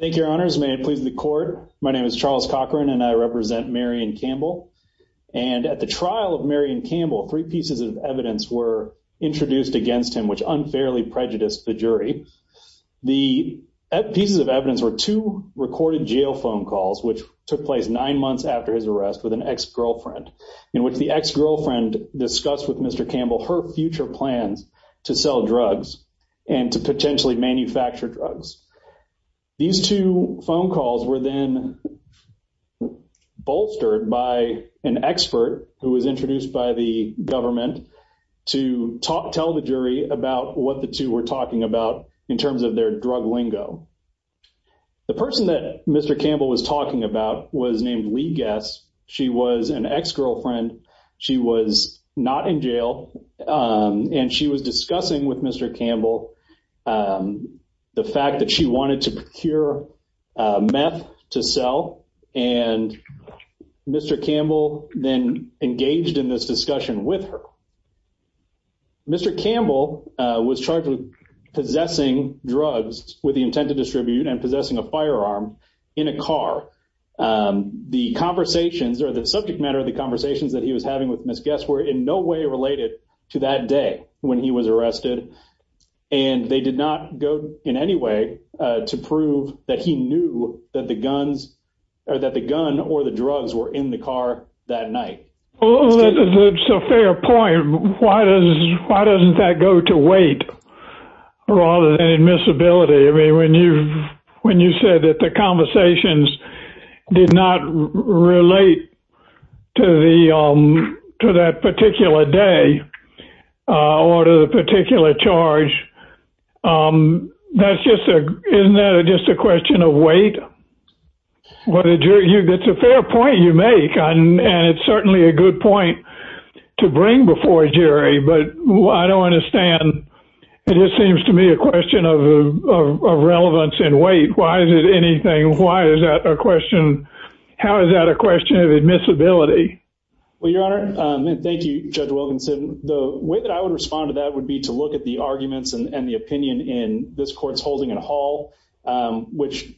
thank your honors may it please the court my name is Charles Cochran and I represent Marion Campbell and at the trial of Marion Campbell three pieces of evidence were introduced against him which unfairly prejudiced the jury the pieces of evidence were two recorded jail phone calls which took place nine months after his arrest with an ex-girlfriend in which the ex-girlfriend discussed with mr. Campbell her future plans to sell drugs and to potentially manufacture drugs these two phone calls were then bolstered by an expert who was introduced by the government to talk tell the jury about what the two were talking about in terms of their drug lingo the person that mr. Campbell was talking about was named Lee guess she was an ex-girlfriend she was not in jail and she was discussing with mr. Campbell the fact that she wanted to procure meth to sell and mr. Campbell then engaged in this discussion with her mr. Campbell was charged with possessing drugs with the intent to distribute and possessing a firearm in a car the conversations or the subject matter of the conversations that he was having with miss guests were in no way related to that day when he was arrested and they did not go in any way to prove that he knew that the guns or that the gun or the drugs were in the car that night point why does why doesn't that go to wait rather than admissibility I mean when you when you said that the conversations did not relate to the to that particular day or to the particular charge that's just a isn't that just a question of weight what did you get a fair point you make and it's certainly a good point to bring before a jury but I don't understand it just seems to me a why is it anything why is that a question how is that a question of admissibility well your honor thank you judge Wilkinson the way that I would respond to that would be to look at the arguments and the opinion in this courts holding at all which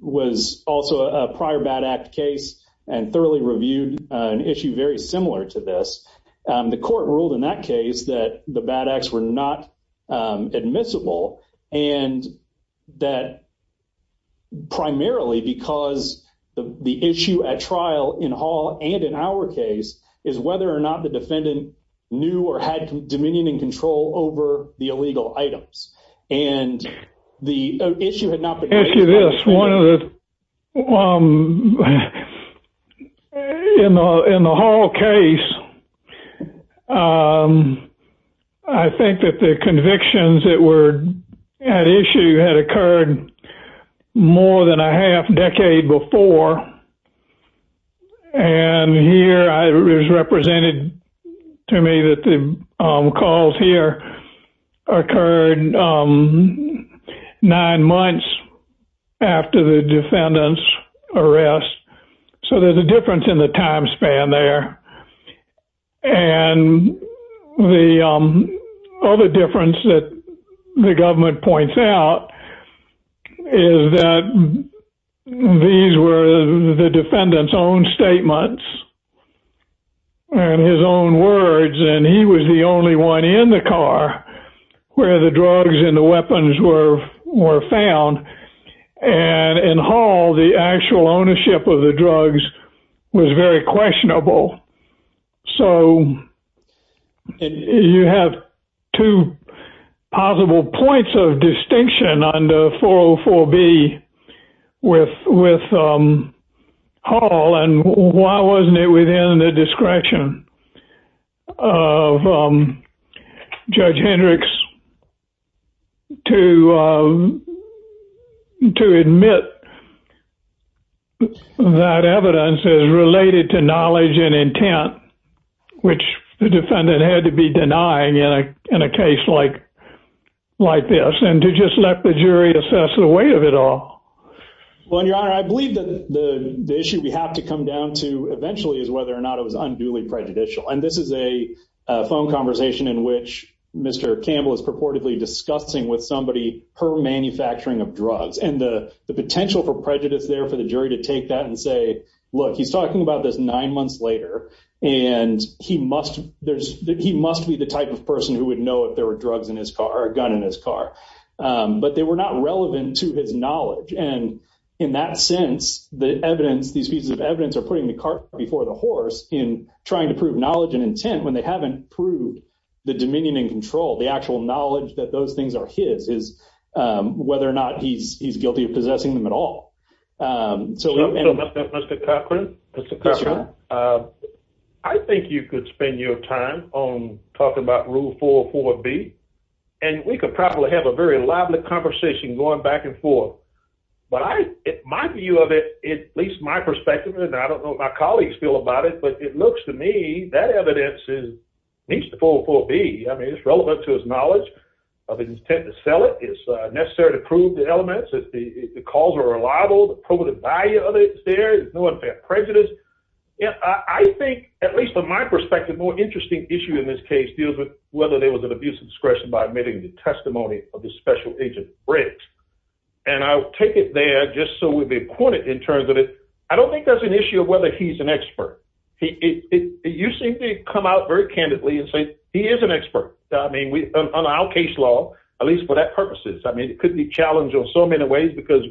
was also a prior bad act case and thoroughly reviewed an issue very similar to this the court ruled in that case that the bad acts were not admissible and that primarily because the issue at trial in Hall and in our case is whether or not the defendant knew or had dominion and control over the illegal items and the issue had not been asked you this one of them in the hall case I think that the convictions that were at issue had occurred more than a half decade before and here I was represented to me that the calls here occurred nine months after the defendants arrest so there's a difference in the time span there and the other difference that the government points out is that these were the defendants own statements and his own words and he was the only one in the car where the drugs and the weapons were were found and in Hall the actual ownership of the drugs was very questionable so you have two possible points of distinction under 404 B with Paul and why wasn't it within the discretion of Judge Hendricks to to admit that evidence is related to knowledge and intent which the defendant had to be denying in a in a case like like this and to just let the jury assess the weight of it all well your honor I believe that the issue we have to come down to eventually is whether or not it was unduly prejudicial and this is a phone conversation in which mr. Campbell is purportedly discussing with somebody per manufacturing of drugs and the potential for prejudice there for the jury to take that and say look he's talking about this nine months later and he must there's he must be the type of person who would know if there were drugs in his car or a gun in his car but they were not relevant to his knowledge and in that sense the evidence these pieces of evidence are putting the cart before the horse in trying to prove knowledge and intent when they haven't proved the dominion and control the actual knowledge that those things are his is whether or not he's guilty of possessing them at all so mr. Cochran mr. Cochran I think you could spend your time on talking about rule four four B and we could probably have a very lively conversation going back and forth but I it might be you of it at least my perspective and I don't know my colleagues feel about it but it looks to me that evidence is needs to fall for B I mean it's relevant to his knowledge of intent to sell it is necessary to prove the elements if the calls are reliable the probative value of it there is no prejudice yeah I think at least from my perspective more interesting issue in this case deals with whether there was an abuse of discretion by admitting the testimony of the special agent brakes and I'll take it there just so we'd be pointed in terms of it I don't think that's an issue of whether he's an expert he you seem to come out very candidly and say he is an expert I mean we on our case law at least for that purposes I mean it could be challenged on so many ways because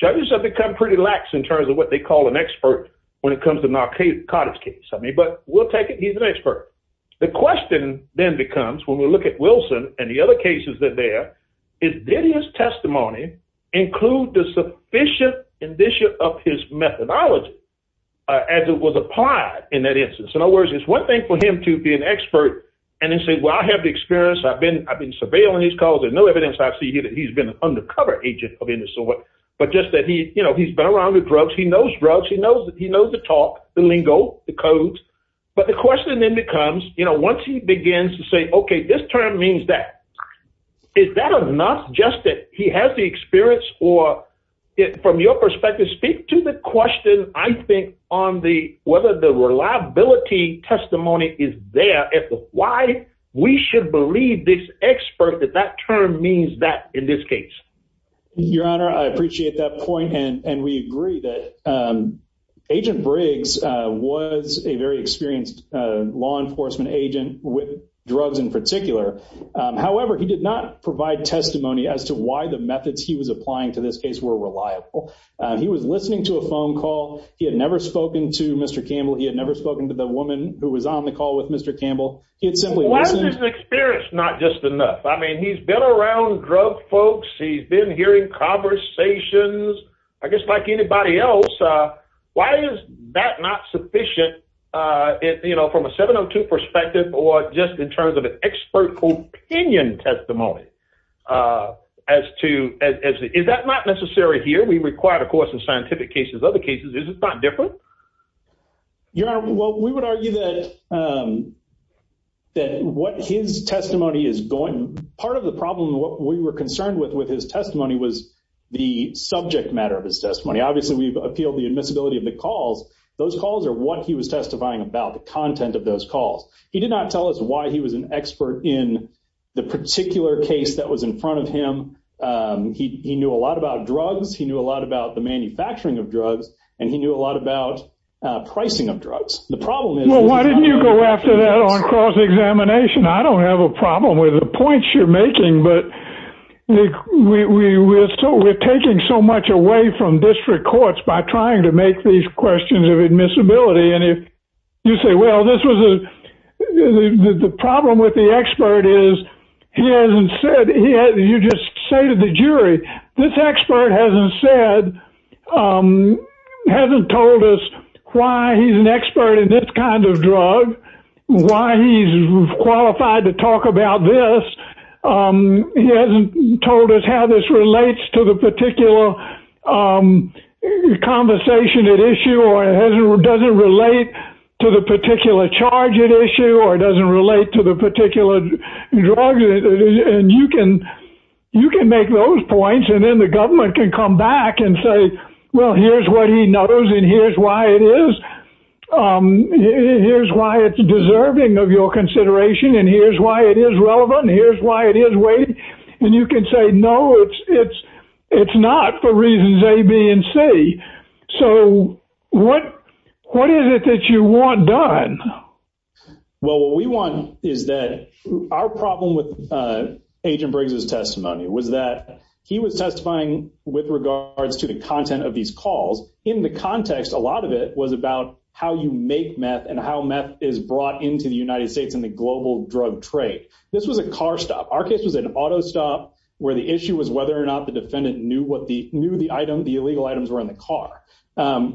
judges have become pretty lax in terms of what they call an expert when it comes to knock a cottage case I mean but we'll take it he's an expert the question then becomes when we look at Wilson and the other cases that there is did his testimony include the sufficient indicia of his methodology as it was applied in that instance in other words it's one thing for him to be an expert and then say well I have the experience I've been I've been surveilling his cause there's no evidence I see here that he's been an undercover agent of any sort but just that he you know he's been around the roads he knows drugs he knows that he knows the talk the lingo the codes but the question then becomes you know once he begins to say okay this term means that is that of not just that he has the experience or it from your perspective speak to the question I think on the whether the reliability testimony is there at the why we should believe this expert that that term means that in this case your honor I appreciate that point and and we agree that agent Briggs was a very experienced law enforcement agent with drugs in particular however he did not provide testimony as to why the methods he was applying to this case were reliable he was listening to a phone call he had never spoken to mr. Campbell he had never spoken to the woman who was on the call with mr. Campbell it's simply why there's an experience not just enough I mean he's been around drug folks he's been hearing conversations I guess like anybody else why is that not sufficient if you know from a 702 perspective or just in terms of an expert opinion testimony as to as is that not necessary here we require the course of scientific cases other cases is it's not different your honor well we would argue that that what his testimony is going part of the problem what we were concerned with with his testimony was the subject matter of his testimony obviously we've appealed the admissibility of the calls those calls are what he was testifying about the content of those calls he did not tell us why he was an expert in the particular case that was in front of him he knew a lot about drugs he knew a lot about the manufacturing of drugs and he knew a lot about pricing of drugs the problem is why didn't you go after that on cross-examination I don't have a point you're making but we were so we're taking so much away from district courts by trying to make these questions of admissibility and if you say well this was a the problem with the expert is he hasn't said yeah you just say to the jury this expert hasn't said hasn't told us why he's an expert in this kind of drug why he's qualified to talk about this he hasn't told us how this relates to the particular conversation at issue or it doesn't relate to the particular charge at issue or it doesn't relate to the particular drug and you can you can make those points and then the government can come back and say well here's what he knows and here's why it is here's why it's deserving of your consideration and here's why it is relevant here's why it is waiting and you can say no it's it's it's not for reasons a B and C so what what is it that you want done well what we want is that our problem with agent Briggs's of these calls in the context a lot of it was about how you make meth and how meth is brought into the United States in the global drug trade this was a car stop our case was an auto stop where the issue was whether or not the defendant knew what the knew the item the illegal items were in the car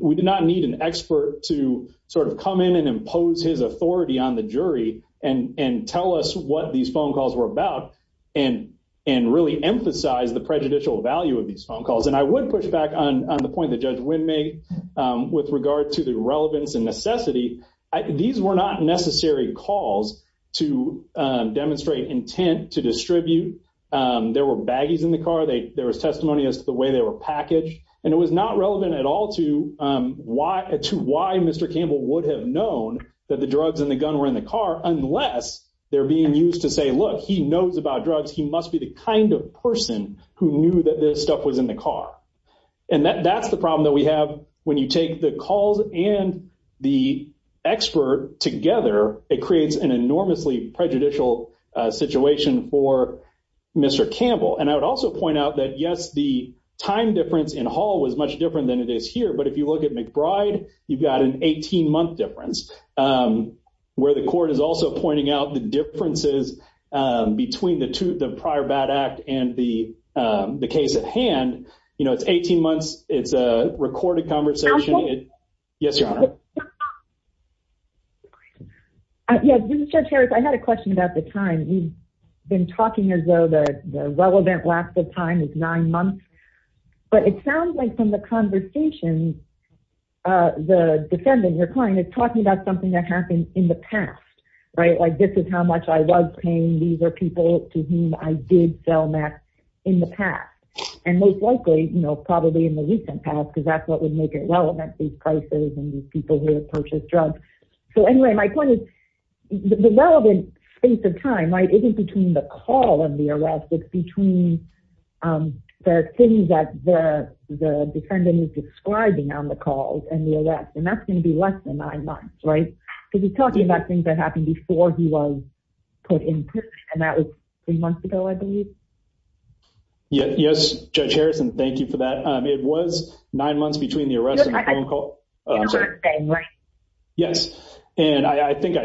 we did not need an expert to sort of come in and impose his authority on the jury and and tell us what these phone calls were about and and really emphasize the prejudicial value of these phone calls and I would push back on the point that judge win me with regard to the relevance and necessity these were not necessary calls to demonstrate intent to distribute there were baggies in the car they there was testimony as to the way they were packaged and it was not relevant at all to why to why mr. Campbell would have known that the drugs and the gun were in the car unless they're being used to say look he knows about drugs he must be the kind of person who knew that this stuff was in the car and that that's the problem that we have when you take the calls and the expert together it creates an enormously prejudicial situation for mr. Campbell and I would also point out that yes the time difference in Hall was much different than it is here but if you look at McBride you've got an 18 month difference where the court is also pointing out the differences between the two the prior bad act and the the case at hand you know it's 18 months it's a recorded conversation yes your honor I had a question about the time we've been talking as though the relevant lapse of time is nine months but it sounds like from the conversation the defendant your client is talking about something that happened in the past right like this is how much I was paying these are people to whom I did sell max in the past and most likely you know probably in the recent past because that's what would make it relevant these prices and these people who have purchased drugs so anyway my point is the relevant space of time right isn't between the call and the arrest it's between the things that the defendant is describing on the calls and the arrest and that's going to be less right because he's talking about things that happened before he was put in prison and that was three months ago I believe yes judge Harrison thank you for that it was nine months between the arrest yes and I think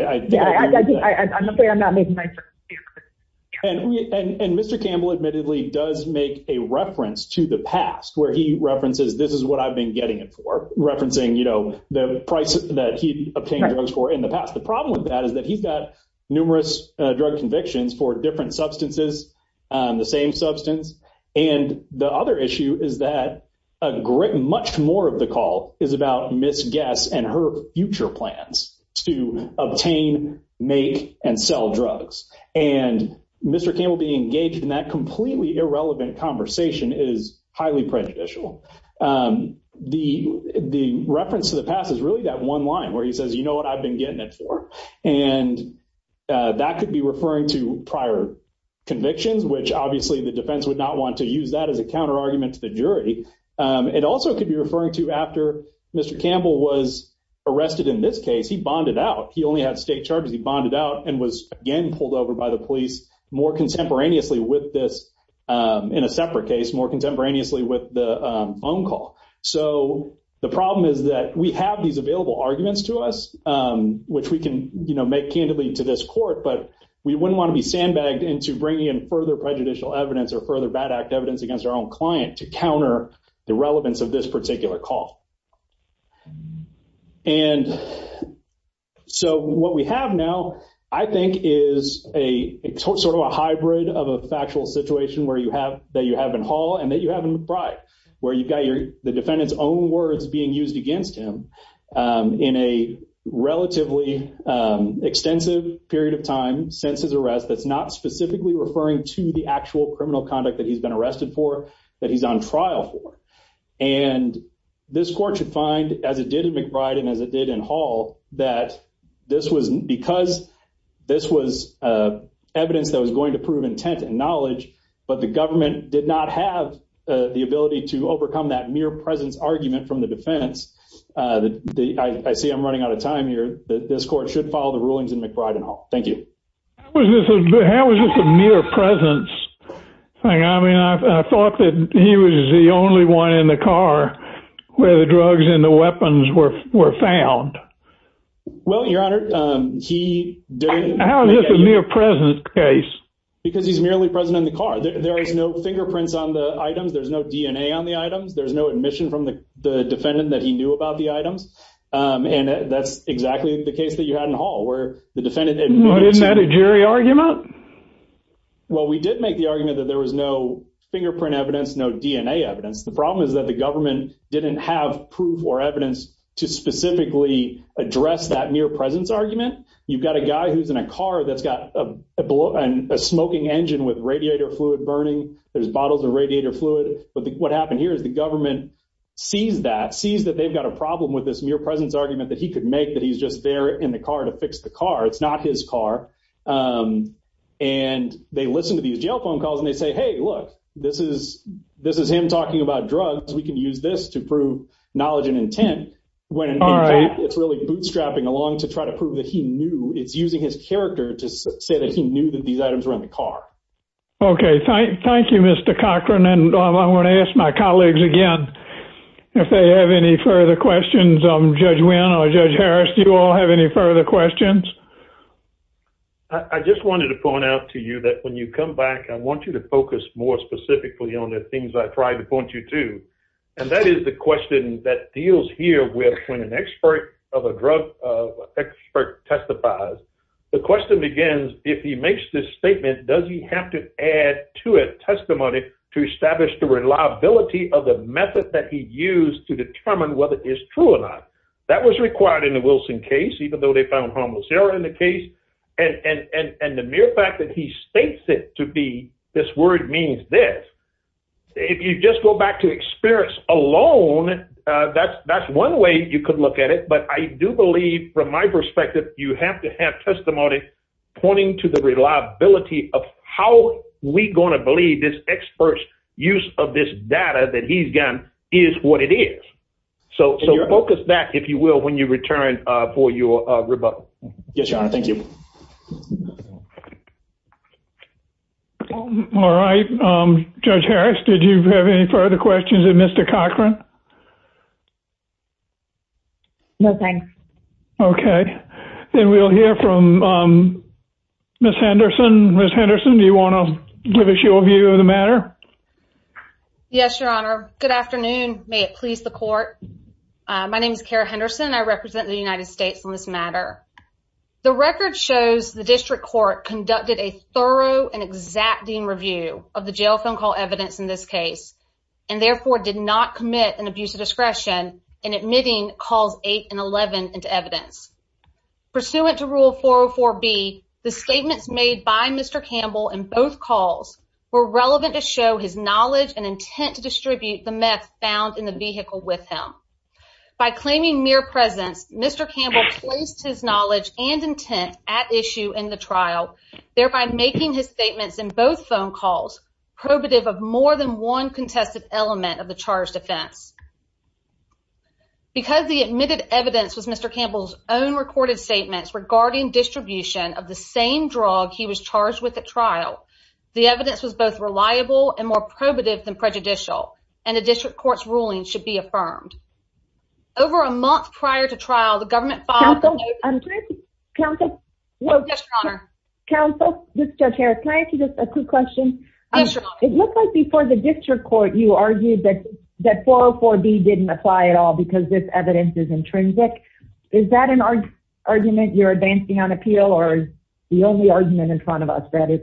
and mr. Campbell admittedly does make a reference to the past where he references this is what I've been getting it for referencing you know the price that he obtained drugs for in the past the problem with that is that he's got numerous drug convictions for different substances the same substance and the other issue is that a grit much more of the call is about miss guests and her future plans to obtain make and sell drugs and mr. Campbell being engaged in that irrelevant conversation is highly prejudicial the the reference to the past is really that one line where he says you know what I've been getting it for and that could be referring to prior convictions which obviously the defense would not want to use that as a counter argument to the jury it also could be referring to after mr. Campbell was arrested in this case he bonded out he only had state charges he bonded out and was again pulled over by the police more contemporaneously with this in a separate case more contemporaneously with the phone call so the problem is that we have these available arguments to us which we can you know make candidly to this court but we wouldn't want to be sandbagged into bringing in further prejudicial evidence or further bad act evidence against our own client to counter the relevance of this of a factual situation where you have that you have in Hall and that you have in the pride where you got your the defendant's own words being used against him in a relatively extensive period of time since his arrest that's not specifically referring to the actual criminal conduct that he's been arrested for that he's on trial for and this court should find as it did in McBride and as it did in Hall that this wasn't because this was evidence that was going to prove intent and knowledge but the government did not have the ability to overcome that mere presence argument from the defense that I see I'm running out of time here that this court should follow the rulings in McBride and all thank you I mean I thought that he was the only one in the because he's merely present in the car there is no fingerprints on the items there's no DNA on the items there's no admission from the defendant that he knew about the items and that's exactly the case that you had in Hall where the defendant and what is that a jury argument well we did make the argument that there was no fingerprint evidence no DNA evidence the problem is that the government didn't have proof or evidence to specifically address that mere presence argument you've got a guy who's in a car that's got a smoking engine with radiator fluid burning there's bottles of radiator fluid but what happened here is the government sees that sees that they've got a problem with this mere presence argument that he could make that he's just there in the car to fix the car it's not his car and they listen to these jail phone calls and they say hey look this is this is him talking about drugs we can use this to prove knowledge and intent when it's really bootstrapping along to try to prove that he knew it's using his character to say that he knew that these items were in the car okay thank you mr. Cochran and I want to ask my colleagues again if they have any further questions I'm judge when I judge Harris do you all have any further questions I just wanted to point out to you that when you come back I want you to focus more specifically on the things I tried to point you to and that is the question that deals here with when an expert of a drug expert testifies the question begins if he makes this statement does he have to add to a testimony to establish the reliability of the method that he used to determine whether it is true or not that was required in the Wilson case even though they found homicidal in the case and and and the mere fact that he states it to be this word means this if you just go to experience alone that's that's one way you could look at it but I do believe from my perspective you have to have testimony pointing to the reliability of how we gonna believe this experts use of this data that he's done is what it is so so focus that if you will when you return for your rebuttal yes your honor thank you all right judge Harris did you have any further questions of mr. Cochran nothing okay then we'll hear from miss Henderson miss Henderson do you want to give us your view of the matter yes your honor good afternoon may it please the court my name is Kara Henderson I represent the record shows the district court conducted a thorough and exacting review of the jail phone call evidence in this case and therefore did not commit an abuse of discretion in admitting calls 8 and 11 into evidence pursuant to rule 404 be the statements made by mr. Campbell and both calls were relevant to show his knowledge and intent to distribute the meth found in the vehicle with him by claiming mere presence mr. Campbell placed his knowledge and intent at issue in the trial thereby making his statements in both phone calls probative of more than one contested element of the charge defense because the admitted evidence was mr. Campbell's own recorded statements regarding distribution of the same drug he was charged with at trial the evidence was both reliable and more over a month prior to trial the government counsel counsel counsel mr. Harris thank you just a quick question it looks like before the district court you argued that that 404 B didn't apply at all because this evidence is intrinsic is that an argument you're advancing on appeal or the only argument in front of us that is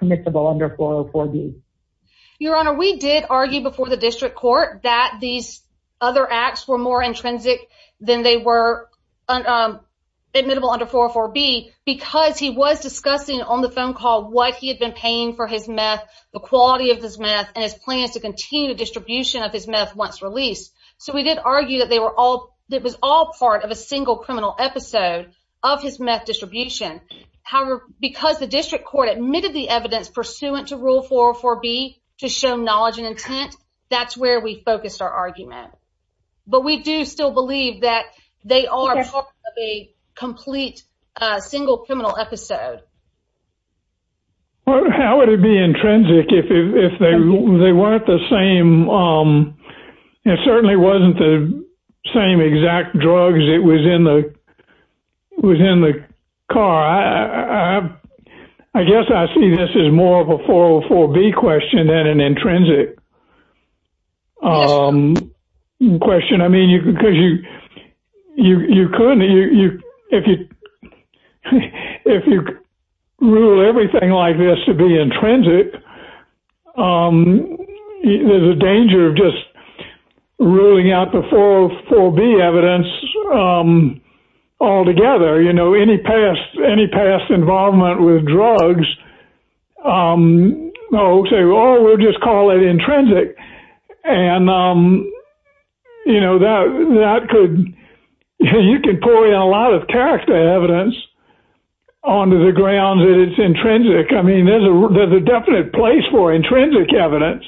permissible under 404 B your honor we did argue before the district court that these other acts were more intrinsic than they were admittable under 404 B because he was discussing on the phone call what he had been paying for his meth the quality of his meth and his plans to continue distribution of his meth once released so we did argue that they were all that was all part of a single criminal episode of his meth distribution however because the district court admitted the evidence pursuant to rule 404 B to show knowledge and intent that's where we focused our argument but we do still believe that they are a complete single criminal episode how would it be intrinsic if they weren't the same it certainly wasn't the same exact drugs it was in the within the car I guess I see this is more of a 404 B question than an intrinsic question I mean you can because you you couldn't you if you if you rule everything like this to be intrinsic there's a danger of just ruling out the 404 B evidence all together you know any past any past involvement with drugs no say well we'll just call it intrinsic and you know that that could you can pull in a lot of character evidence onto the ground that it's intrinsic I mean there's a definite place for intrinsic evidence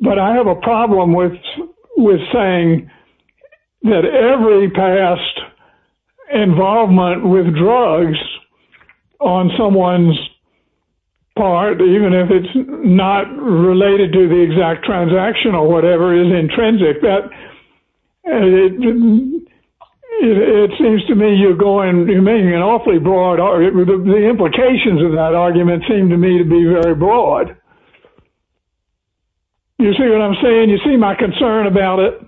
but I have a problem with with saying that every past involvement with drugs on someone's part even if it's not related to the exact transaction or whatever is intrinsic that it seems to me you're going to make an awfully broad or the implications of that argument seem to me to be very broad you see what I'm saying you see my concern about it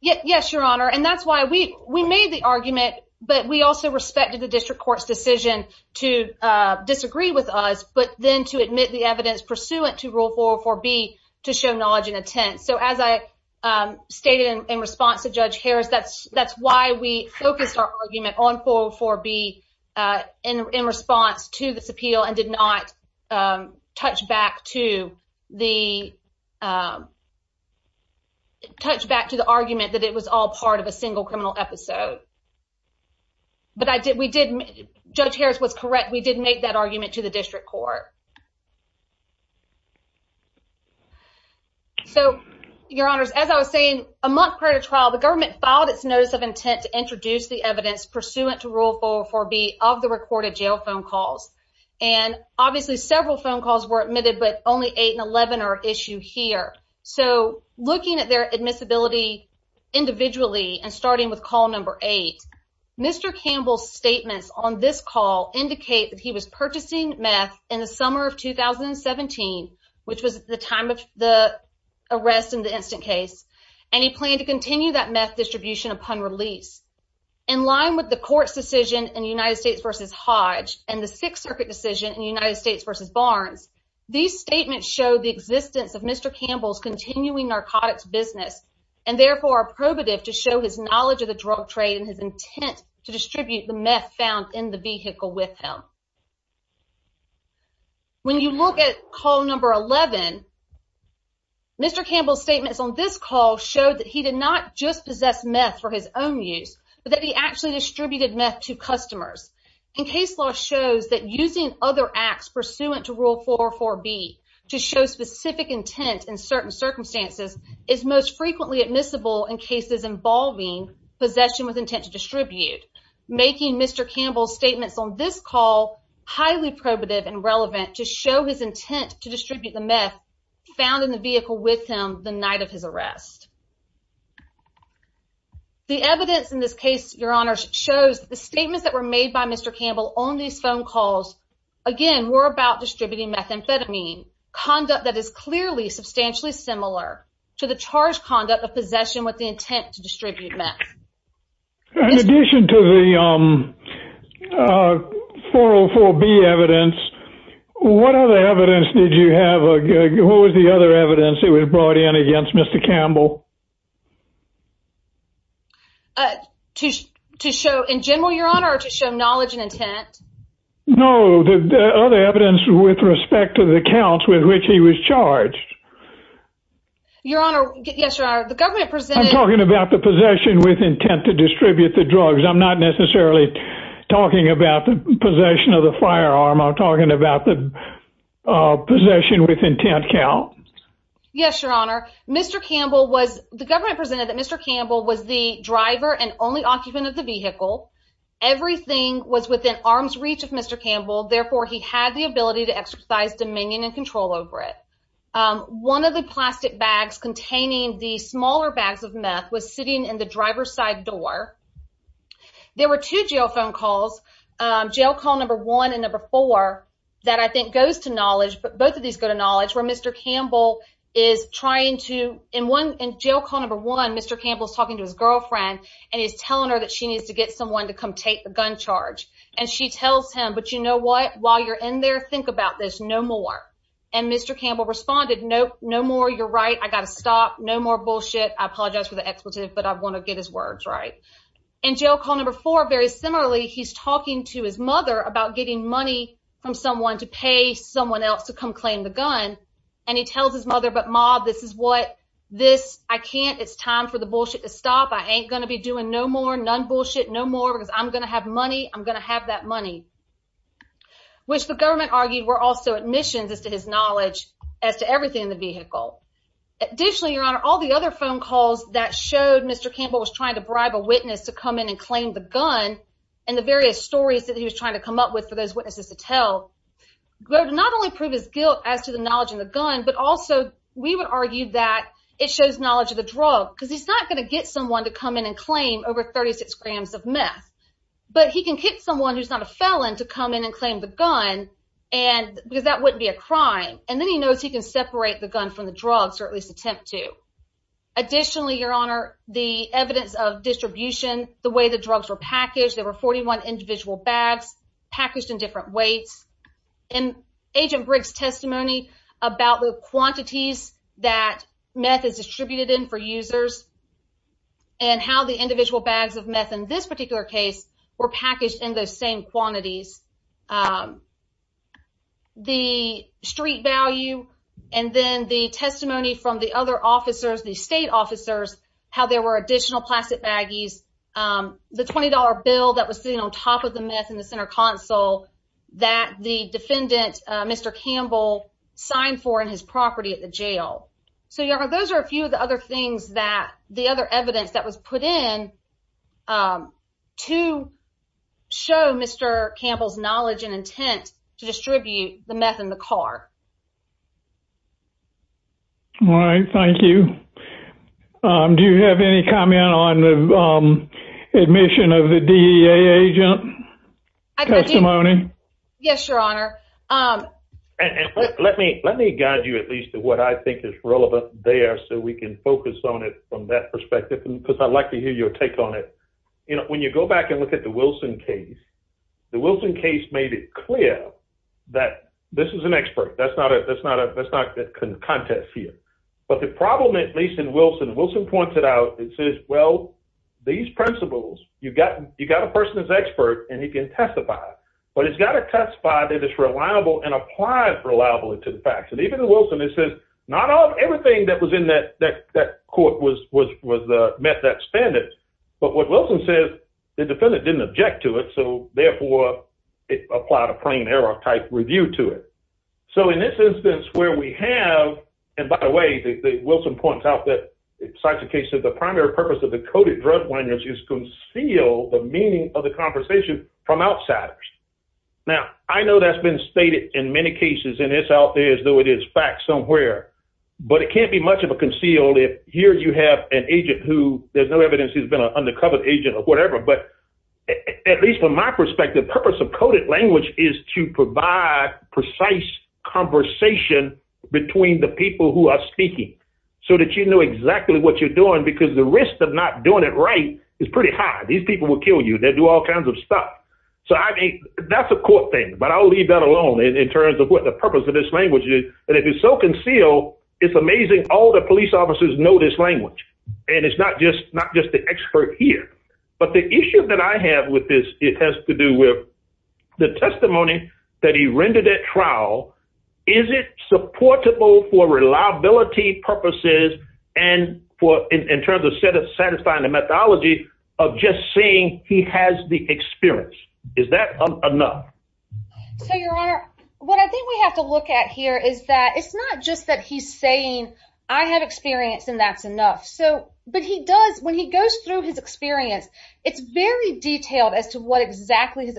yes your honor and that's why we we made the argument but we also respected the district courts decision to disagree with us but then to admit the evidence pursuant to rule 404 B to show knowledge and intent so as I stated in response to Judge Harris that's that's why we focused our argument on 404 B in response to this appeal and did not touch back to the touch back to the argument that it was all part of a single criminal episode but I did we didn't judge Harris was correct we didn't make that argument to the district court so your honors as I was saying a month prior to trial the government filed its notice of intent to and obviously several phone calls were admitted but only 811 or issue here so looking at their admissibility individually and starting with call number 8 mr. Campbell's statements on this call indicate that he was purchasing meth in the summer of 2017 which was the time of the arrest in the instant case any plan to continue that meth distribution upon release in line with the court's decision in United States vs. Hodge and the Sixth Circuit decision United States vs. Barnes these statements show the existence of Mr. Campbell's continuing narcotics business and therefore probative to show his knowledge of the drug trade and his intent to distribute the meth found in the vehicle with him when you look at call number 11 mr. Campbell's statements on this call showed that he did not just possess meth for his own use but that he actually distributed meth to customers in case law shows that using other acts pursuant to rule for 4b to show specific intent in certain circumstances is most frequently admissible in cases involving possession with intent to distribute making mr. Campbell's statements on this call highly probative and relevant to show his intent to distribute the meth found in the vehicle with him the night of his arrest the evidence in this case your honor shows the statements that were made by mr. Campbell on these phone calls again we're about distributing methamphetamine conduct that is clearly substantially similar to the charge conduct of possession with the intent to distribute meth in addition to the 404 B evidence what other evidence did you have a good who was the other evidence it was brought in against mr. Campbell to show in general your honor to show knowledge and intent no the other evidence with respect to the counts with which he was charged your honor the government presented talking about the possession with intent to distribute the drugs I'm not necessarily talking about the possession of the firearm I'm talking about the possession with intent yes your honor mr. Campbell was the government presented that mr. Campbell was the driver and only occupant of the vehicle everything was within arm's reach of mr. Campbell therefore he had the ability to exercise dominion and control over it one of the plastic bags containing the smaller bags of meth was sitting in the driver's side door there were two jail phone calls jail call number one and number four that I think goes to knowledge but both of these go knowledge where mr. Campbell is trying to in one in jail call number one mr. Campbell's talking to his girlfriend and he's telling her that she needs to get someone to come take the gun charge and she tells him but you know what while you're in there think about this no more and mr. Campbell responded no no more you're right I got to stop no more bullshit I apologize for the expletive but I want to get his words right in jail call number four very similarly he's talking to his mother about getting money from someone to pay someone else to come claim the gun and he tells his mother but mob this is what this I can't it's time for the bullshit to stop I ain't gonna be doing no more none bullshit no more because I'm gonna have money I'm gonna have that money which the government argued were also admissions as to his knowledge as to everything in the vehicle additionally your honor all the other phone calls that showed mr. Campbell was trying to bribe a witness to come in and claim the gun and the various stories that he was trying to come up with for those not only prove his guilt as to the knowledge of the gun but also we would argue that it shows knowledge of the drug because he's not going to get someone to come in and claim over 36 grams of meth but he can kick someone who's not a felon to come in and claim the gun and because that wouldn't be a crime and then he knows he can separate the gun from the drugs or at least attempt to additionally your honor the evidence of distribution the way the weights and agent Briggs testimony about the quantities that meth is distributed in for users and how the individual bags of meth in this particular case were packaged in those same quantities the street value and then the testimony from the other officers the state officers how there were additional plastic baggies the $20 bill that was sitting on top of the meth in the center console that the defendant mr. Campbell signed for in his property at the jail so yeah those are a few of the other things that the other evidence that was put in to show mr. Campbell's knowledge and intent to distribute the meth in the car all right thank you do you have any comment on the admission of the DEA agent testimony yes your honor let me let me guide you at least to what I think is relevant there so we can focus on it from that perspective because I'd like to hear your take on it you know when you go back and look at the Wilson case the Wilson case made it clear that this is an expert that's not it that's not a that's not that can contest here but the you got you got a person that's expert and he can testify but it's got a test by that it's reliable and applied for allowable it to the facts and even the Wilson it says not all everything that was in that that court was was was the meth that standard but what Wilson said the defendant didn't object to it so therefore it applied a plain error type review to it so in this instance where we have and by the way the Wilson points out that besides the case of the primary purpose of the coded drug one is to conceal the meaning of the conversation from outsiders now I know that's been stated in many cases and it's out there as though it is fact somewhere but it can't be much of a conceal if here you have an agent who there's no evidence he's been an undercover agent or whatever but at least from my perspective purpose of coded language is to provide precise conversation between the people who are speaking so that you know exactly what you're doing because the risk of not doing it right is pretty high these people will kill you they do all kinds of stuff so I think that's a court thing but I'll leave that alone in terms of what the purpose of this language is and if it's so concealed it's amazing all the police officers know this language and it's not just not just the expert here but the issue that I have with this it has to do with the testimony that he rendered at trial is it supportable for reliability purposes and for in terms of set of satisfying the methodology of just saying he has the experience is that enough so your honor what I think we have to look at here is that it's not just that he's saying I have experience and that's enough so but he does when he goes through his experience it's very detailed as to what exactly his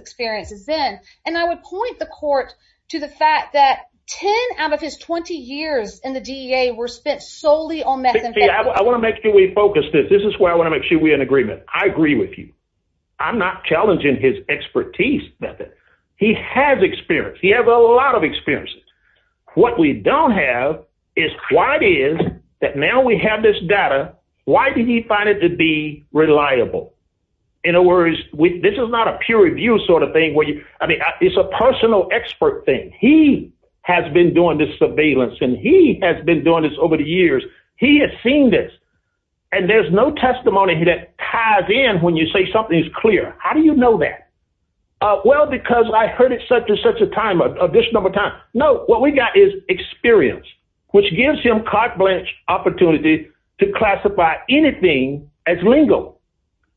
and I would point the court to the fact that 10 out of his 20 years in the DEA were spent solely on that I want to make sure we focus this this is where I want to make sure we in agreement I agree with you I'm not challenging his expertise that he has experience he has a lot of experiences what we don't have is why it is that now we have this data why did he find it to be reliable in a this is not a peer-reviewed sort of thing where you I mean it's a personal expert thing he has been doing this surveillance and he has been doing this over the years he has seen this and there's no testimony that ties in when you say something is clear how do you know that well because I heard it such as such a time of this number time no what we got is experience which gives him carte blanche opportunity to classify anything as lingo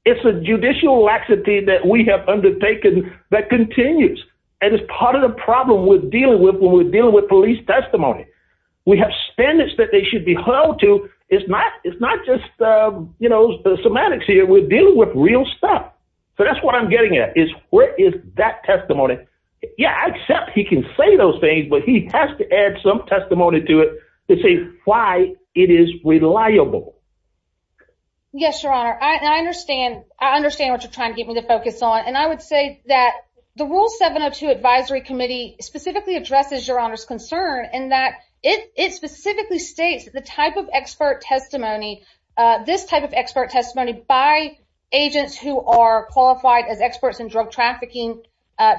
it's a judicial laxity that we have undertaken that continues and it's part of the problem with dealing with when we're dealing with police testimony we have standards that they should be held to it's not it's not just you know the semantics here we're dealing with real stuff so that's what I'm getting at is where is that testimony yeah except he can say those things but he has to add some testimony to it to see why it is reliable yes your honor I understand I would say that the rule 702 Advisory Committee specifically addresses your honors concern and that it specifically states the type of expert testimony this type of expert testimony by agents who are qualified as experts in drug trafficking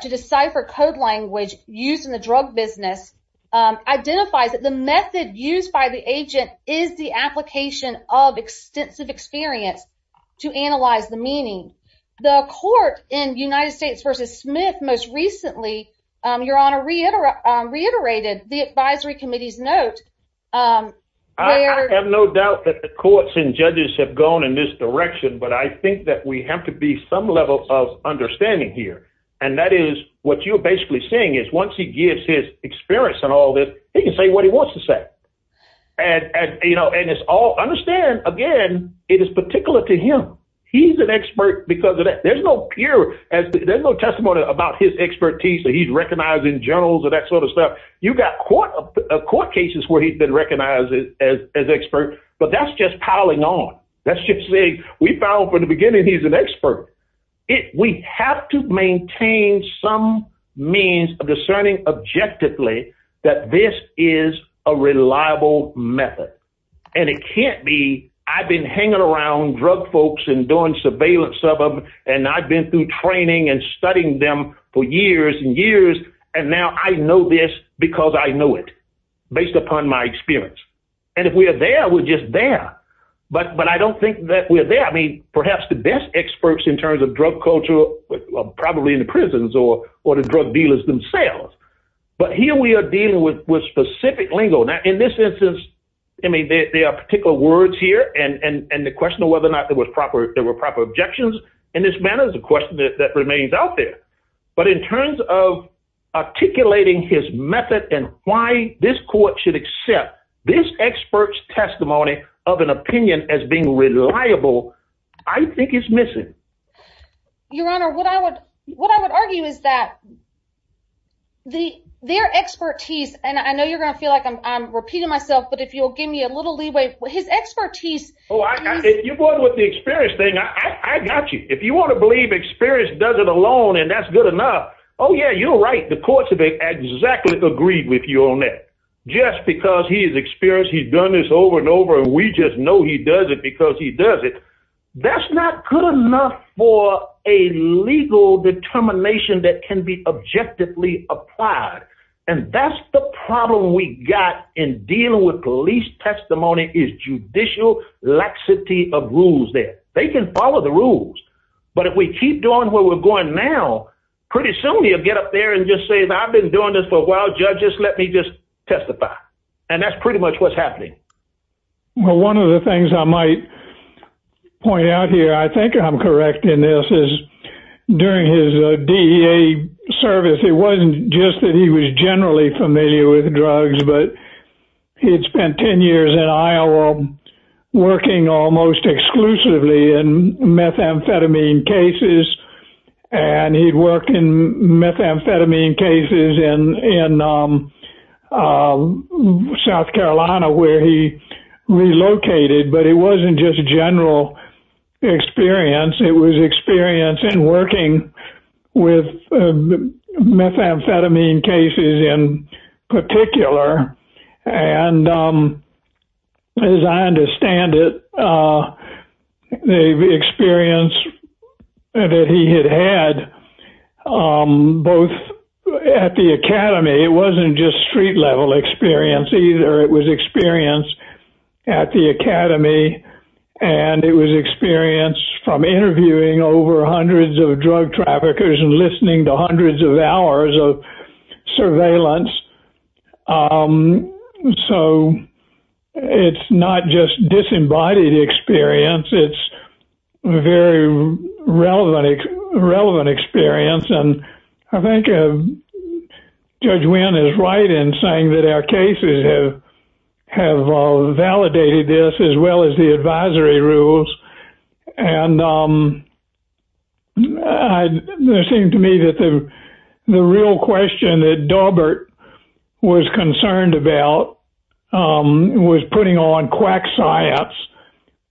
to decipher code language used in the drug business identifies that the method used by the agent is the application of extensive experience to the court in United States versus Smith most recently your honor reiterate reiterated the Advisory Committee's note I have no doubt that the courts and judges have gone in this direction but I think that we have to be some level of understanding here and that is what you're basically saying is once he gives his experience and all this he can say what he wants to say and you know and it's all understand again it is particular to him he's an expert because of that there's no pure as there's no testimony about his expertise that he's recognized in journals or that sort of stuff you got court of court cases where he's been recognized as expert but that's just piling on that's just saying we found from the beginning he's an expert if we have to maintain some means of discerning objectively that this is a reliable method and it and I've been through training and studying them for years and years and now I know this because I know it based upon my experience and if we are there we're just there but but I don't think that we're there I mean perhaps the best experts in terms of drug culture probably in the prisons or or the drug dealers themselves but here we are dealing with specific lingo now in this instance I mean there are particular words here and and and the question of whether or not there was proper there were proper objections and this man is a question that remains out there but in terms of articulating his method and why this court should accept this experts testimony of an opinion as being reliable I think it's missing your honor what I would what I would argue is that the their expertise and I know you're gonna feel like I'm repeating myself but if you'll give me a little leeway with his expertise oh you're born with the experience thing I got you if you want to believe experience does it alone and that's good enough oh yeah you're right the courts have exactly agreed with you on that just because he is experienced he's done this over and over and we just know he does it because he does it that's not good enough for a legal determination that can be objectively applied and that's the problem we got in dealing with police testimony is judicial laxity of rules there they can follow the rules but if we keep doing where we're going now pretty soon you'll get up there and just say that I've been doing this for a while judges let me just testify and that's pretty much what's happening well one of the things I might point out here I think I'm correct in this is during his DEA service it wasn't just that he was generally familiar with drugs but he'd spent 10 years in Iowa working almost exclusively and methamphetamine cases and he'd work in methamphetamine cases in South Carolina where he relocated but it wasn't just a general experience it was experience in working with methamphetamine cases in particular and as I understand it the experience that he had had both at the Academy it wasn't just street-level experience either it was experience at the Academy and it was experience from interviewing over hundreds of drug traffickers and listening to hundreds of hours of surveillance so it's not just disembodied experience it's a very relevant relevant experience and I think judge Wynn is right in saying that our have validated this as well as the advisory rules and there seemed to me that the real question that Daubert was concerned about was putting on quack science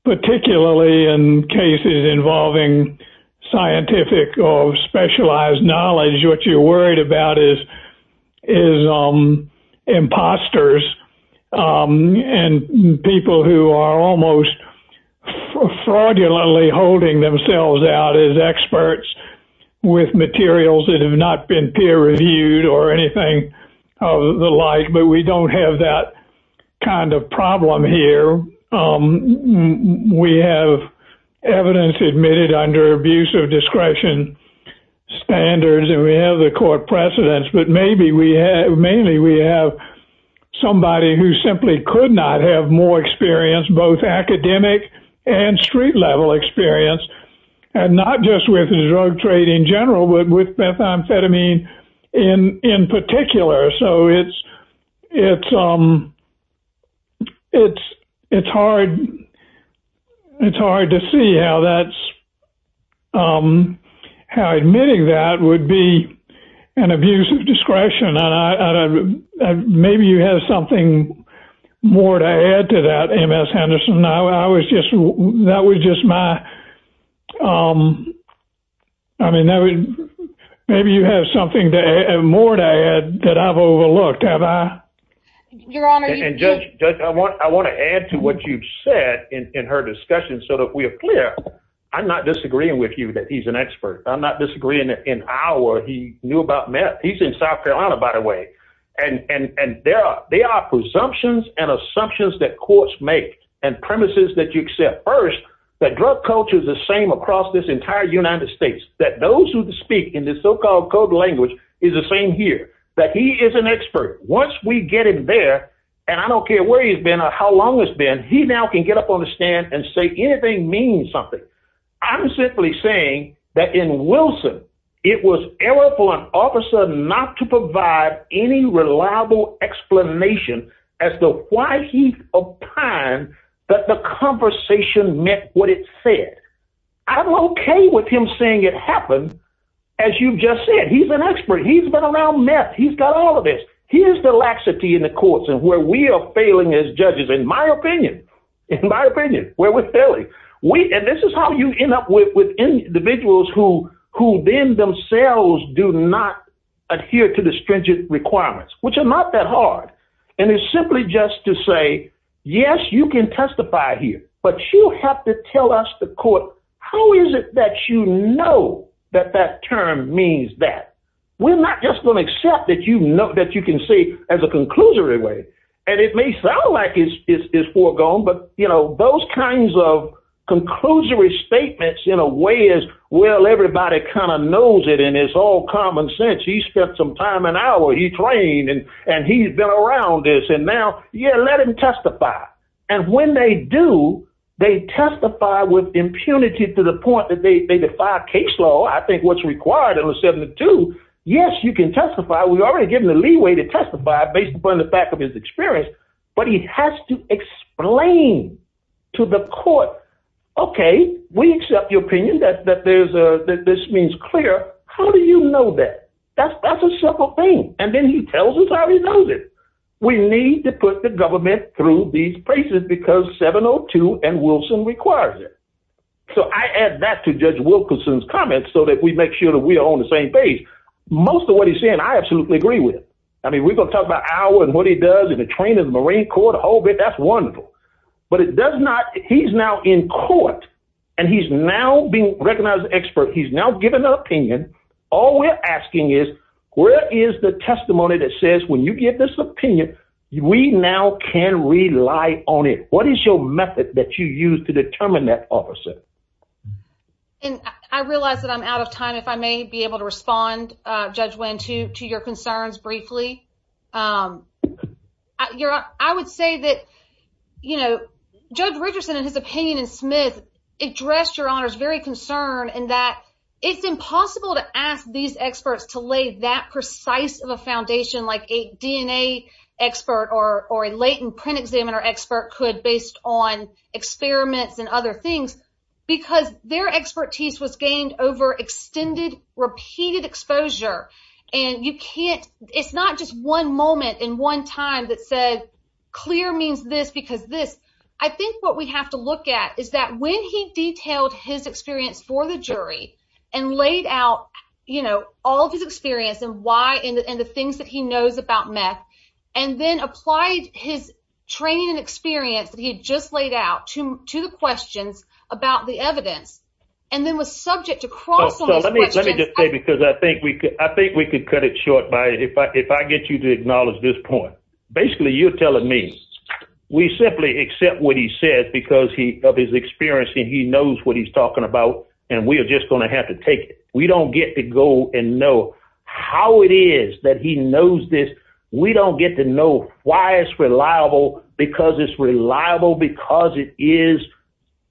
particularly in cases involving scientific or specialized knowledge what you're worried about is is imposters and people who are almost fraudulently holding themselves out as experts with materials that have not been peer reviewed or anything of the like but we don't have that kind of problem here we have evidence admitted under abuse of discretion standards and we have the court precedents but maybe we have mainly we have somebody who simply could not have more experience both academic and street-level experience and not just with the drug trade in general but with methamphetamine in in particular so it's it's um it's it's hard it's hard to see how that's how admitting that would be an abuse of discretion and I maybe you have something more to add to that MS Henderson I was just that was just my I mean that would maybe you have something more to add that I've overlooked have I I want to add to what you've said in her discussion so that we are clear I'm not disagreeing with you that he's an expert I'm not disagreeing in our he knew about meth he's in South Carolina by the way and and and there are they are presumptions and assumptions that courts make and premises that you accept first that drug culture is the same across this entire United States that those who speak in this so-called code language is the same here that he is an expert once we get him there and I don't care where he's been or how long it's been he now can get up on the stand and say anything means something I'm simply saying that in Wilson it was error for an officer not to provide any reliable explanation as to why he opined that the conversation meant what it said I'm okay with him saying it happened as you've said he's an expert he's been around meth he's got all of this here's the laxity in the courts and where we are failing as judges in my opinion in my opinion where we're failing we and this is how you end up with individuals who who then themselves do not adhere to the stringent requirements which are not that hard and it's simply just to say yes you can testify here but you have to tell us the court how is it that you know that that term means that we're not just going to accept that you know that you can see as a conclusory way and it may sound like it's foregone but you know those kinds of conclusory statements in a way is well everybody kind of knows it and it's all common sense he spent some time an hour he trained and and he's been around this and now yeah let him impunity to the point that they defy case law I think what's required in the 72 yes you can testify we've already given the leeway to testify based upon the fact of his experience but he has to explain to the court okay we accept your opinion that there's a that this means clear how do you know that that's a simple thing and then he tells us how he knows it we need to put the government through these places because 702 and Wilson requires it so I add that to judge Wilkerson's comments so that we make sure that we are on the same page most of what he's saying I absolutely agree with I mean we're going to talk about our and what he does in the train of the Marine Corps the whole bit that's wonderful but it does not he's now in court and he's now being recognized expert he's now given an opinion all we're asking is where is the testimony that says when you get this opinion we now can rely on it what is your method that you use to determine that officer and I realize that I'm out of time if I may be able to respond judge went to to your concerns briefly you're I would say that you know judge Richardson in his opinion and Smith addressed your honors very concerned and that it's impossible to ask these experts to lay that precise of a foundation like a DNA expert or or a latent print examiner expert could based on experiments and other things because their expertise was gained over extended repeated exposure and you can't it's not just one moment in one time that said clear means this because this I think what we have to look at is that when he detailed his experience for the jury and laid out you know all these experience and why and the things that he knows about math and then applied his training and experience he just laid out to the questions about the evidence and then was subject to cross because I think we could I think we could cut it short by it but if I get you to acknowledge this point basically you're telling me we simply accept what he said because he of his experience and he knows what he's talking about and we are just going to have to take we don't get to go and know how it is that he knows this we don't get to know why it's reliable because it's reliable because it is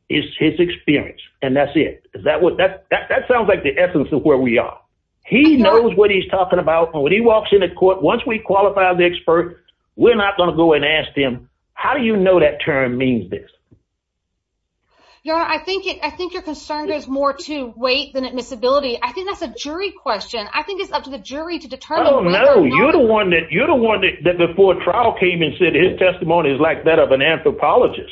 is his experience and that's it is that what that that sounds like the essence of where we are he knows what he's talking about when he walks in the court once we qualify the expert we're not going to go and ask him how do you know that term means this yeah I think it I think you're concerned is more to wait than admissibility I think that's a jury question I think it's up to the jury to determine no you're the one that you don't want it that before trial came and said his testimony is like that of an anthropologist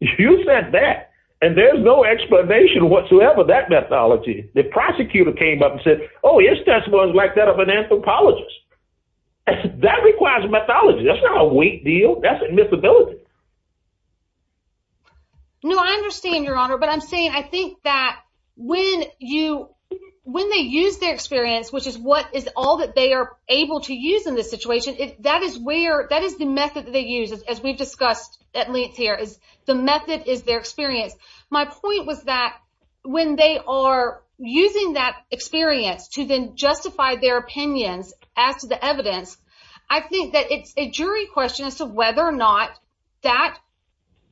you said that and there's no explanation whatsoever that methodology the prosecutor came up and said oh yes that's one like that of an anthropologist that requires methodology that's not a weak deal that's admissibility no I understand your honor but I'm saying I think that when you when they use their experience which is what is all that they are able to use in this situation if that is where that is the method that they use as we've discussed at least here is the method is their experience my point was that when they are using that experience to then justify their opinions as to the evidence I think that it's a jury question as to whether or not that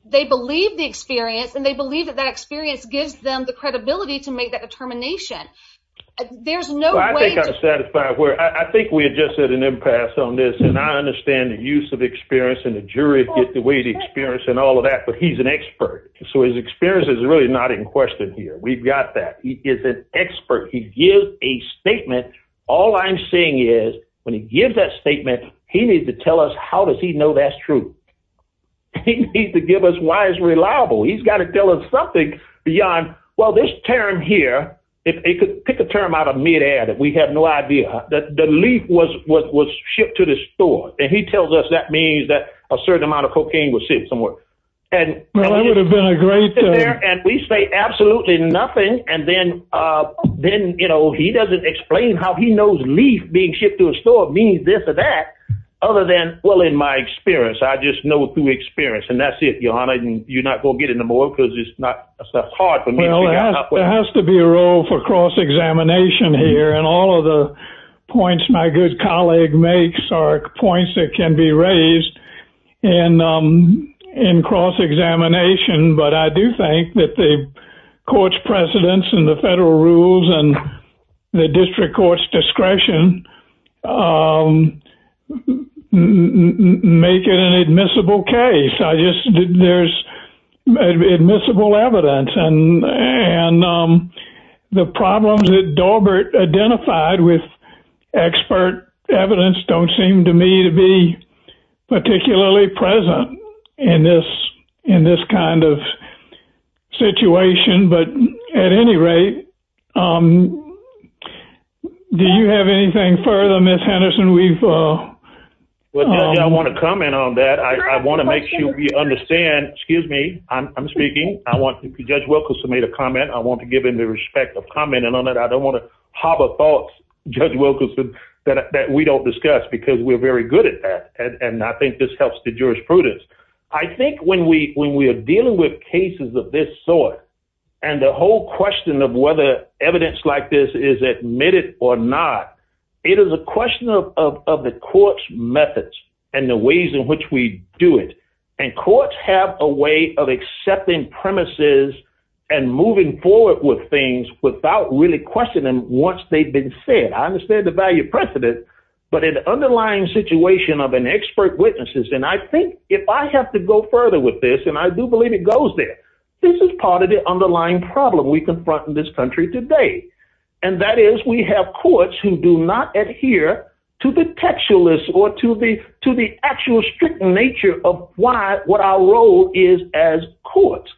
they believe the experience and they believe that that experience gives them the determination there's no I think I'm satisfied where I think we had just said an impasse on this and I understand the use of experience and the jury get the weight experience and all of that but he's an expert so his experience is really not in question here we've got that he is an expert he gives a statement all I'm saying is when he gives that statement he needs to tell us how does he know that's true he needs to give us why is reliable he's got to tell us something beyond well this term here if they could pick a term out of midair that we had no idea that the leaf was what was shipped to the store and he tells us that means that a certain amount of cocaine was sitting somewhere and we say absolutely nothing and then then you know he doesn't explain how he knows leaf being shipped to a store means this or that other than well in my experience I just know through experience and that's it your honor and you're not gonna get in the more because it's not hard for me there has to be a role for cross-examination here and all of the points my good colleague makes are points that can be raised and in cross-examination but I do think that the courts precedents and the federal rules and the district courts discretion make it an admissible case I just there's admissible evidence and and the problems that Daubert identified with expert evidence don't seem to me to be particularly present in this in this kind of situation but at any rate do you have anything further miss Henderson we've I want to comment on that I want to make sure we understand excuse me I'm speaking I want to judge Wilkerson made a comment I want to give him the respect of commenting on that I don't want to harbor thoughts judge Wilkerson that we don't discuss because we're very good at that and I think this helps the jurisprudence I think when we when we are dealing with cases of this sort and the whole question of whether evidence like this is admitted or not it is a question of the courts methods and the ways in which we do it and courts have a way of accepting premises and moving forward with things without really questioning once they've been said I understand the value precedent but an underlying situation of an expert witnesses and I think if I have to go further with this and I do believe it goes there this is part of the underlying problem we confront in this country today and that is we have courts who do not adhere to the textualist or to the to the actual strict nature of why what our role is as courts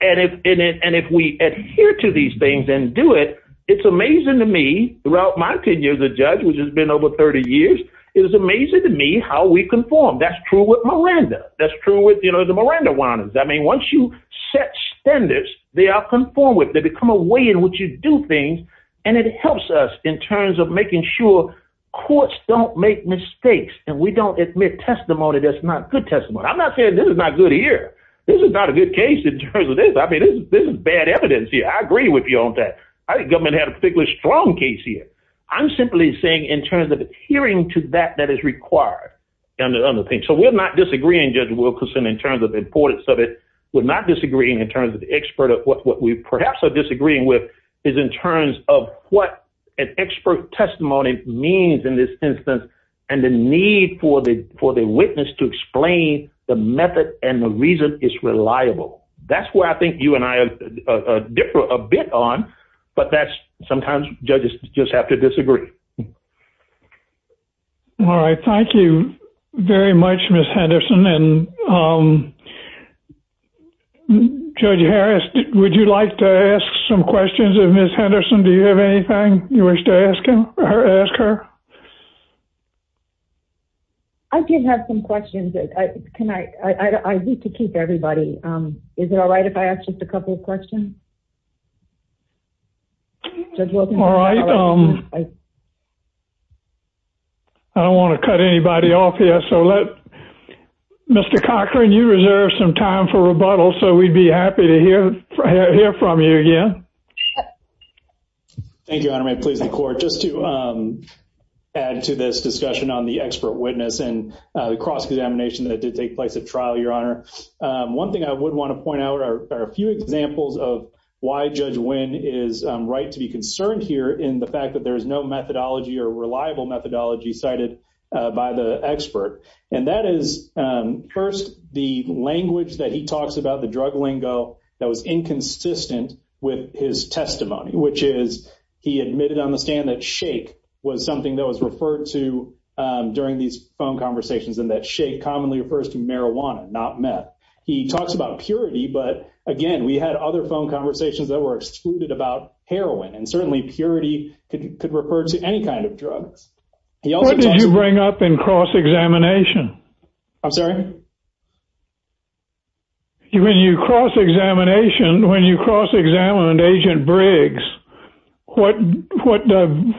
and if in it and if we adhere to these things and do it it's amazing to me throughout my ten years a judge which has been over 30 years it was amazing to me how we conform that's true with Miranda that's true with you know the Miranda warnings I mean once you set standards they are conform with they come away in which you do things and it helps us in terms of making sure courts don't make mistakes and we don't admit testimony that's not good testimony I'm not saying this is not good here this is not a good case in terms of this I mean this is bad evidence here I agree with you on that I think government had a particularly strong case here I'm simply saying in terms of adhering to that that is required and the other thing so we're not disagreeing judge Wilkerson in terms of importance of it we're not disagreeing in terms of the expert of what we perhaps are disagreeing with is in terms of what an expert testimony means in this instance and the need for the for the witness to explain the method and the reason is reliable that's where I think you and I have a different a bit on but that's sometimes judges just have to disagree all right thank you very much miss Henderson and judge Harris would you like to ask some questions of miss Henderson do you have anything you wish to ask him or her ask her I do have some questions I need to keep everybody is it all right if I ask a couple of questions I don't want to cut anybody off here so let mr. Cochran you reserve some time for rebuttal so we'd be happy to hear from you again thank you I may please the court just to add to this discussion on the expert witness and the cross-examination that did take place at trial your honor one thing I would want to point out are a few examples of why judge win is right to be concerned here in the fact that there is no methodology or reliable methodology cited by the expert and that is first the language that he talks about the drug lingo that was inconsistent with his testimony which is he admitted on the stand that shake was something that was referred to during these phone conversations and that shake commonly refers to marijuana not meth he talks about purity but again we had other phone conversations that were excluded about heroin and certainly purity could refer to any kind of drugs he also did you bring up in cross-examination I'm sorry you when you cross-examination when you cross examined agent Briggs what what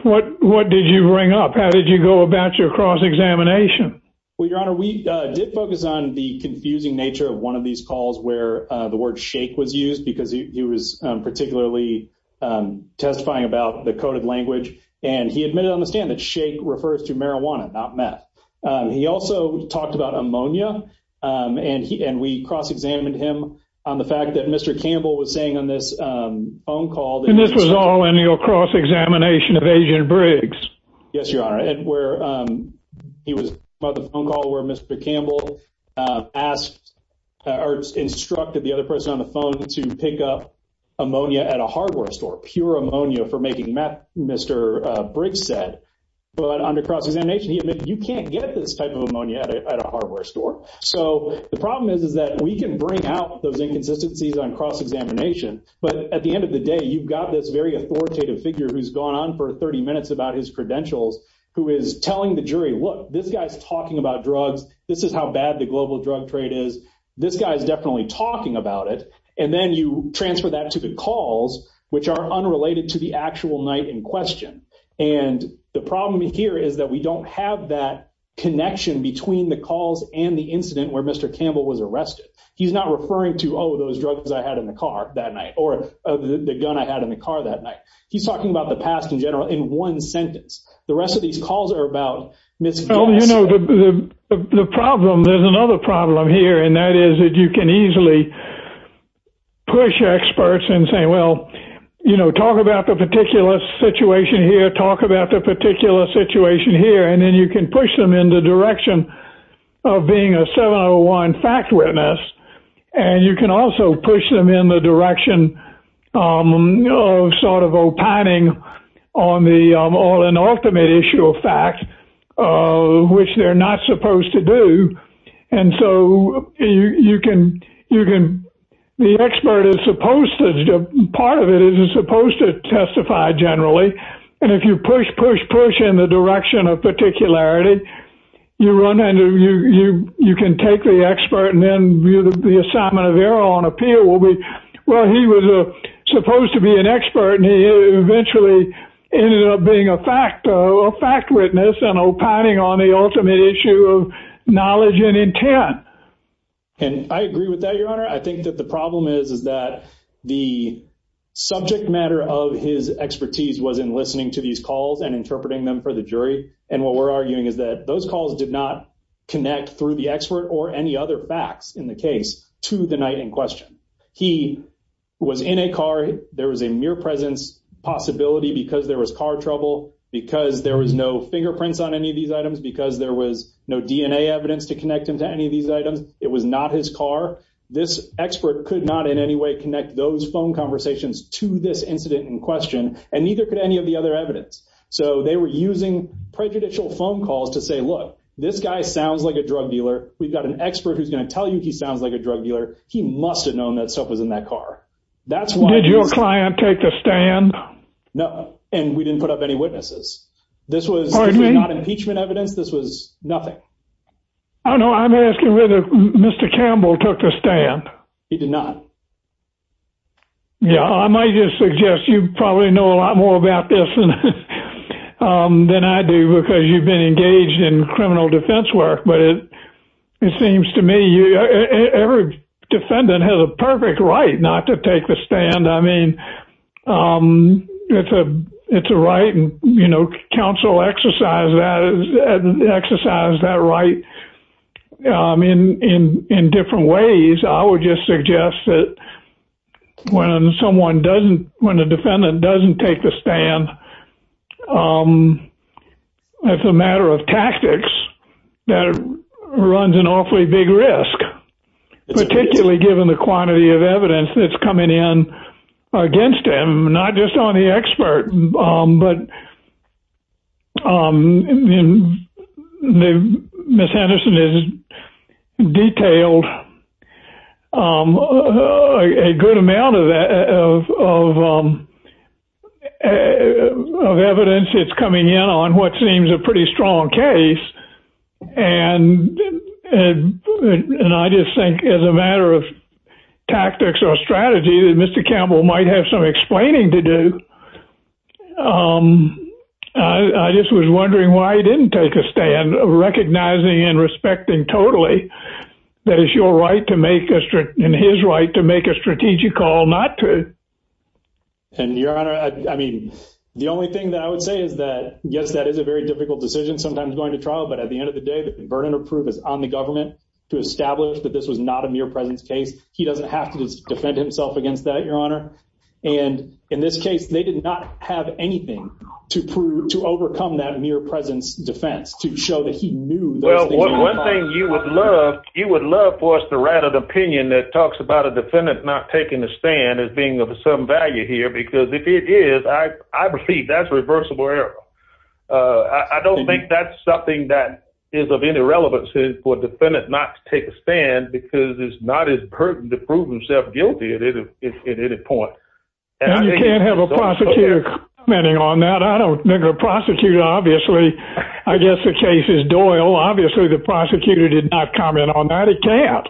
what what did you bring up how did you go about your cross-examination well your honor we did focus on the confusing nature of one of these calls where the word shake was used because he was particularly testifying about the coded language and he admitted on the stand that shake refers to marijuana not meth he also talked about ammonia and he and we cross-examined him on the fact that mr. Campbell was saying on this phone call this was all in your cross-examination yes your honor and where he was by the phone call where mr. Campbell asked or instructed the other person on the phone to pick up ammonia at a hardware store pure ammonia for making meth mr. Briggs said but under cross-examination he admitted you can't get this type of ammonia at a hardware store so the problem is is that we can bring out those inconsistencies on cross-examination but at the end of the day you've got this very authoritative figure who's gone on for 30 minutes about his credentials who is telling the jury look this guy's talking about drugs this is how bad the global drug trade is this guy's definitely talking about it and then you transfer that to the calls which are unrelated to the actual night in question and the problem here is that we don't have that connection between the calls and the incident where mr. Campbell was arrested he's not referring to oh those drugs I had in the car that night or the gun I had in the car that night he's talking about the past in general in one sentence the rest of these calls are about miss oh you know the problem there's another problem here and that is that you can easily push your experts and say well you know talk about the particular situation here talk about the particular situation here and then you can push them in the direction of being a 701 fact witness and you can also push them in the direction of sort of opining on the all an ultimate issue of fact which they're not supposed to do and so you can you can the expert is supposed to do part of it isn't supposed to testify generally and if you push push push in the direction of particularity you run into you you can take the expert and then the assignment of error on appeal will be well he was supposed to be an expert and he eventually ended up being a fact or fact witness and opining on the ultimate issue of knowledge and intent and I agree with that your honor I think that the problem is is that the subject matter of his expertise was in listening to these calls and interpreting them for the jury and what we're arguing is that those calls did not connect through the expert or any other facts in the case to the night in question he was in a car there was a mere presence possibility because there was car trouble because there was no fingerprints on any of these items because there was no DNA evidence to connect him to any of these items it was not his car this expert could not in any way connect those phone conversations to this incident in question and neither could any of the other evidence so they were using prejudicial phone calls to say look this guy sounds like a drug dealer we've got an expert who's going to tell you he sounds like a drug dealer he must have known that stuff was in that car that's why did your client take the stand no and we didn't put up any witnesses this was not impeachment evidence this was nothing I know I'm asking whether mr. Campbell took the stand he did not yeah I might just suggest you probably know a than I do because you've been engaged in criminal defense work but it it seems to me you every defendant has a perfect right not to take the stand I mean it's a it's a right and you know counsel exercise that exercise that right I mean in in different ways I would just suggest that when someone doesn't when it's a matter of tactics that runs an awfully big risk particularly given the quantity of evidence that's coming in against him not just on the expert but miss Henderson is detailed a good amount of evidence it's coming in on what seems a pretty strong case and and I just think as a matter of tactics or strategy that mr. Campbell might have some explaining to do I just was wondering why he didn't take a stand recognizing and respecting totally that is your right to make a strict in his right to make a strategic call not to and your honor I mean the only thing that I would say is that yes that is a very difficult decision sometimes going to trial but at the end of the day the burden of proof is on the government to establish that this was not a mere presence case he doesn't have to defend himself against that your honor and in this case they did not have anything to prove to overcome that mere presence defense to show that you would love you would love for us to write an opinion that talks about a defendant not taking the stand as being of some value here because if it is I I believe that's reversible error I don't think that's something that is of any relevance is for defendant not to take a stand because it's not as pertinent to prove himself guilty at any point on that I don't think a prosecutor obviously I guess the case is Doyle obviously the prosecutor did not comment on that it can't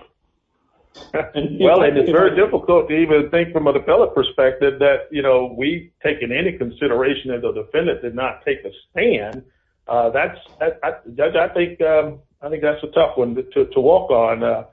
well and it's very difficult to even think from an appellate perspective that you know we taking any consideration that the defendant did not take a stand that's I think I think that's a tough one to walk on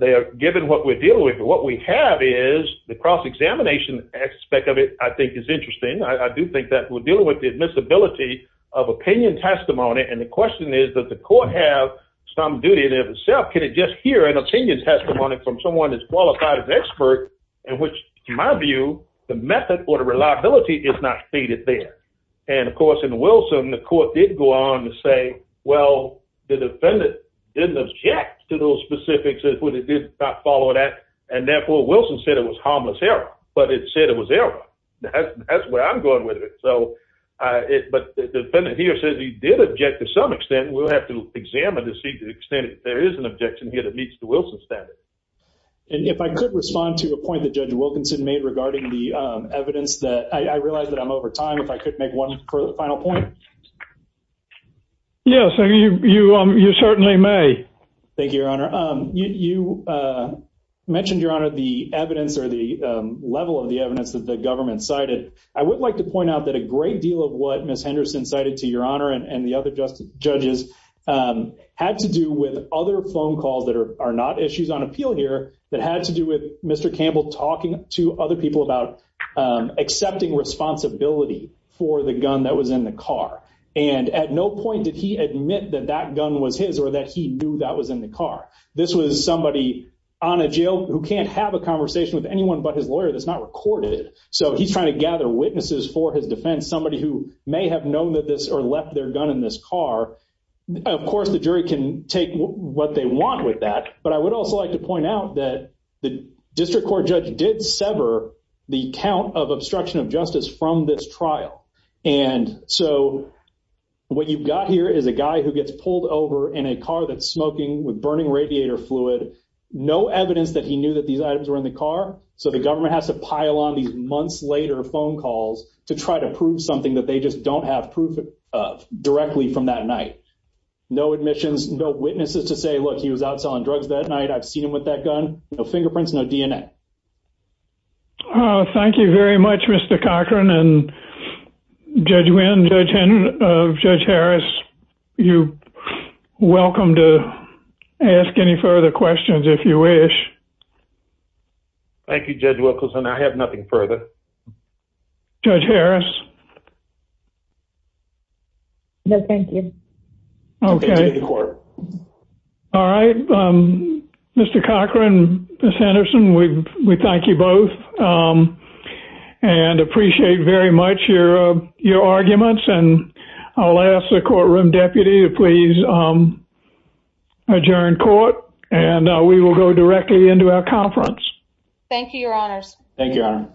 they are given what we're dealing with what we have is the cross-examination aspect of it I think is interesting I do think that we're dealing with the admissibility of opinion testimony and the question is that the court have some duty there itself can it just hear an opinion testimony from someone that's qualified as expert in which to my view the method or the reliability is not stated there and of course in Wilson the court did go on to say well the defendant didn't object to those specifics that when it did not follow that and therefore Wilson said it was harmless error but it said it was there that's where I'm going with it so it but the defendant here says he did object to some extent we'll have to examine to see the extent there is an objection here that meets the Wilson standard and if I could respond to a point that judge Wilkinson made regarding the evidence that I realized that I'm over time if I could make one final point yes you certainly may thank you your honor you mentioned your honor the evidence or the level of the evidence that the government cited I would like to point out that a great deal of what miss Henderson cited to your honor and the other justice judges had to do with other phone calls that are not issues on appeal here that had to do with mr. Campbell talking to other people about accepting responsibility for the gun that was in the car and at no point did he admit that that gun was his or that he knew that was in the car this was somebody on a jail who can't have a conversation with anyone but his lawyer that's not recorded so he's trying to gather witnesses for his defense somebody who may have known that this or left their gun in this car of course the jury can take what they want with that but I would also like to point out that the district court judge did sever the count of obstruction of justice from this trial and so what you've got here is a guy who gets pulled over in a car that's smoking with burning radiator fluid no evidence that he knew that these items were in the car so the government has to pile on these months later phone calls to try to prove something that they just don't have proof of directly from that night no admissions no witnesses to say look he was out selling drugs that night I've seen him with that gun no fingerprints no DNA thank you very much mr. Cochran and judge wind judge Henry judge Harris you welcome to ask any further questions if you wish thank you judge Wilkerson I mr. Cochran miss Anderson we thank you both and appreciate very much your your arguments and I'll ask the courtroom deputy to please adjourn court and we will go directly into our conference thank you your honors thank you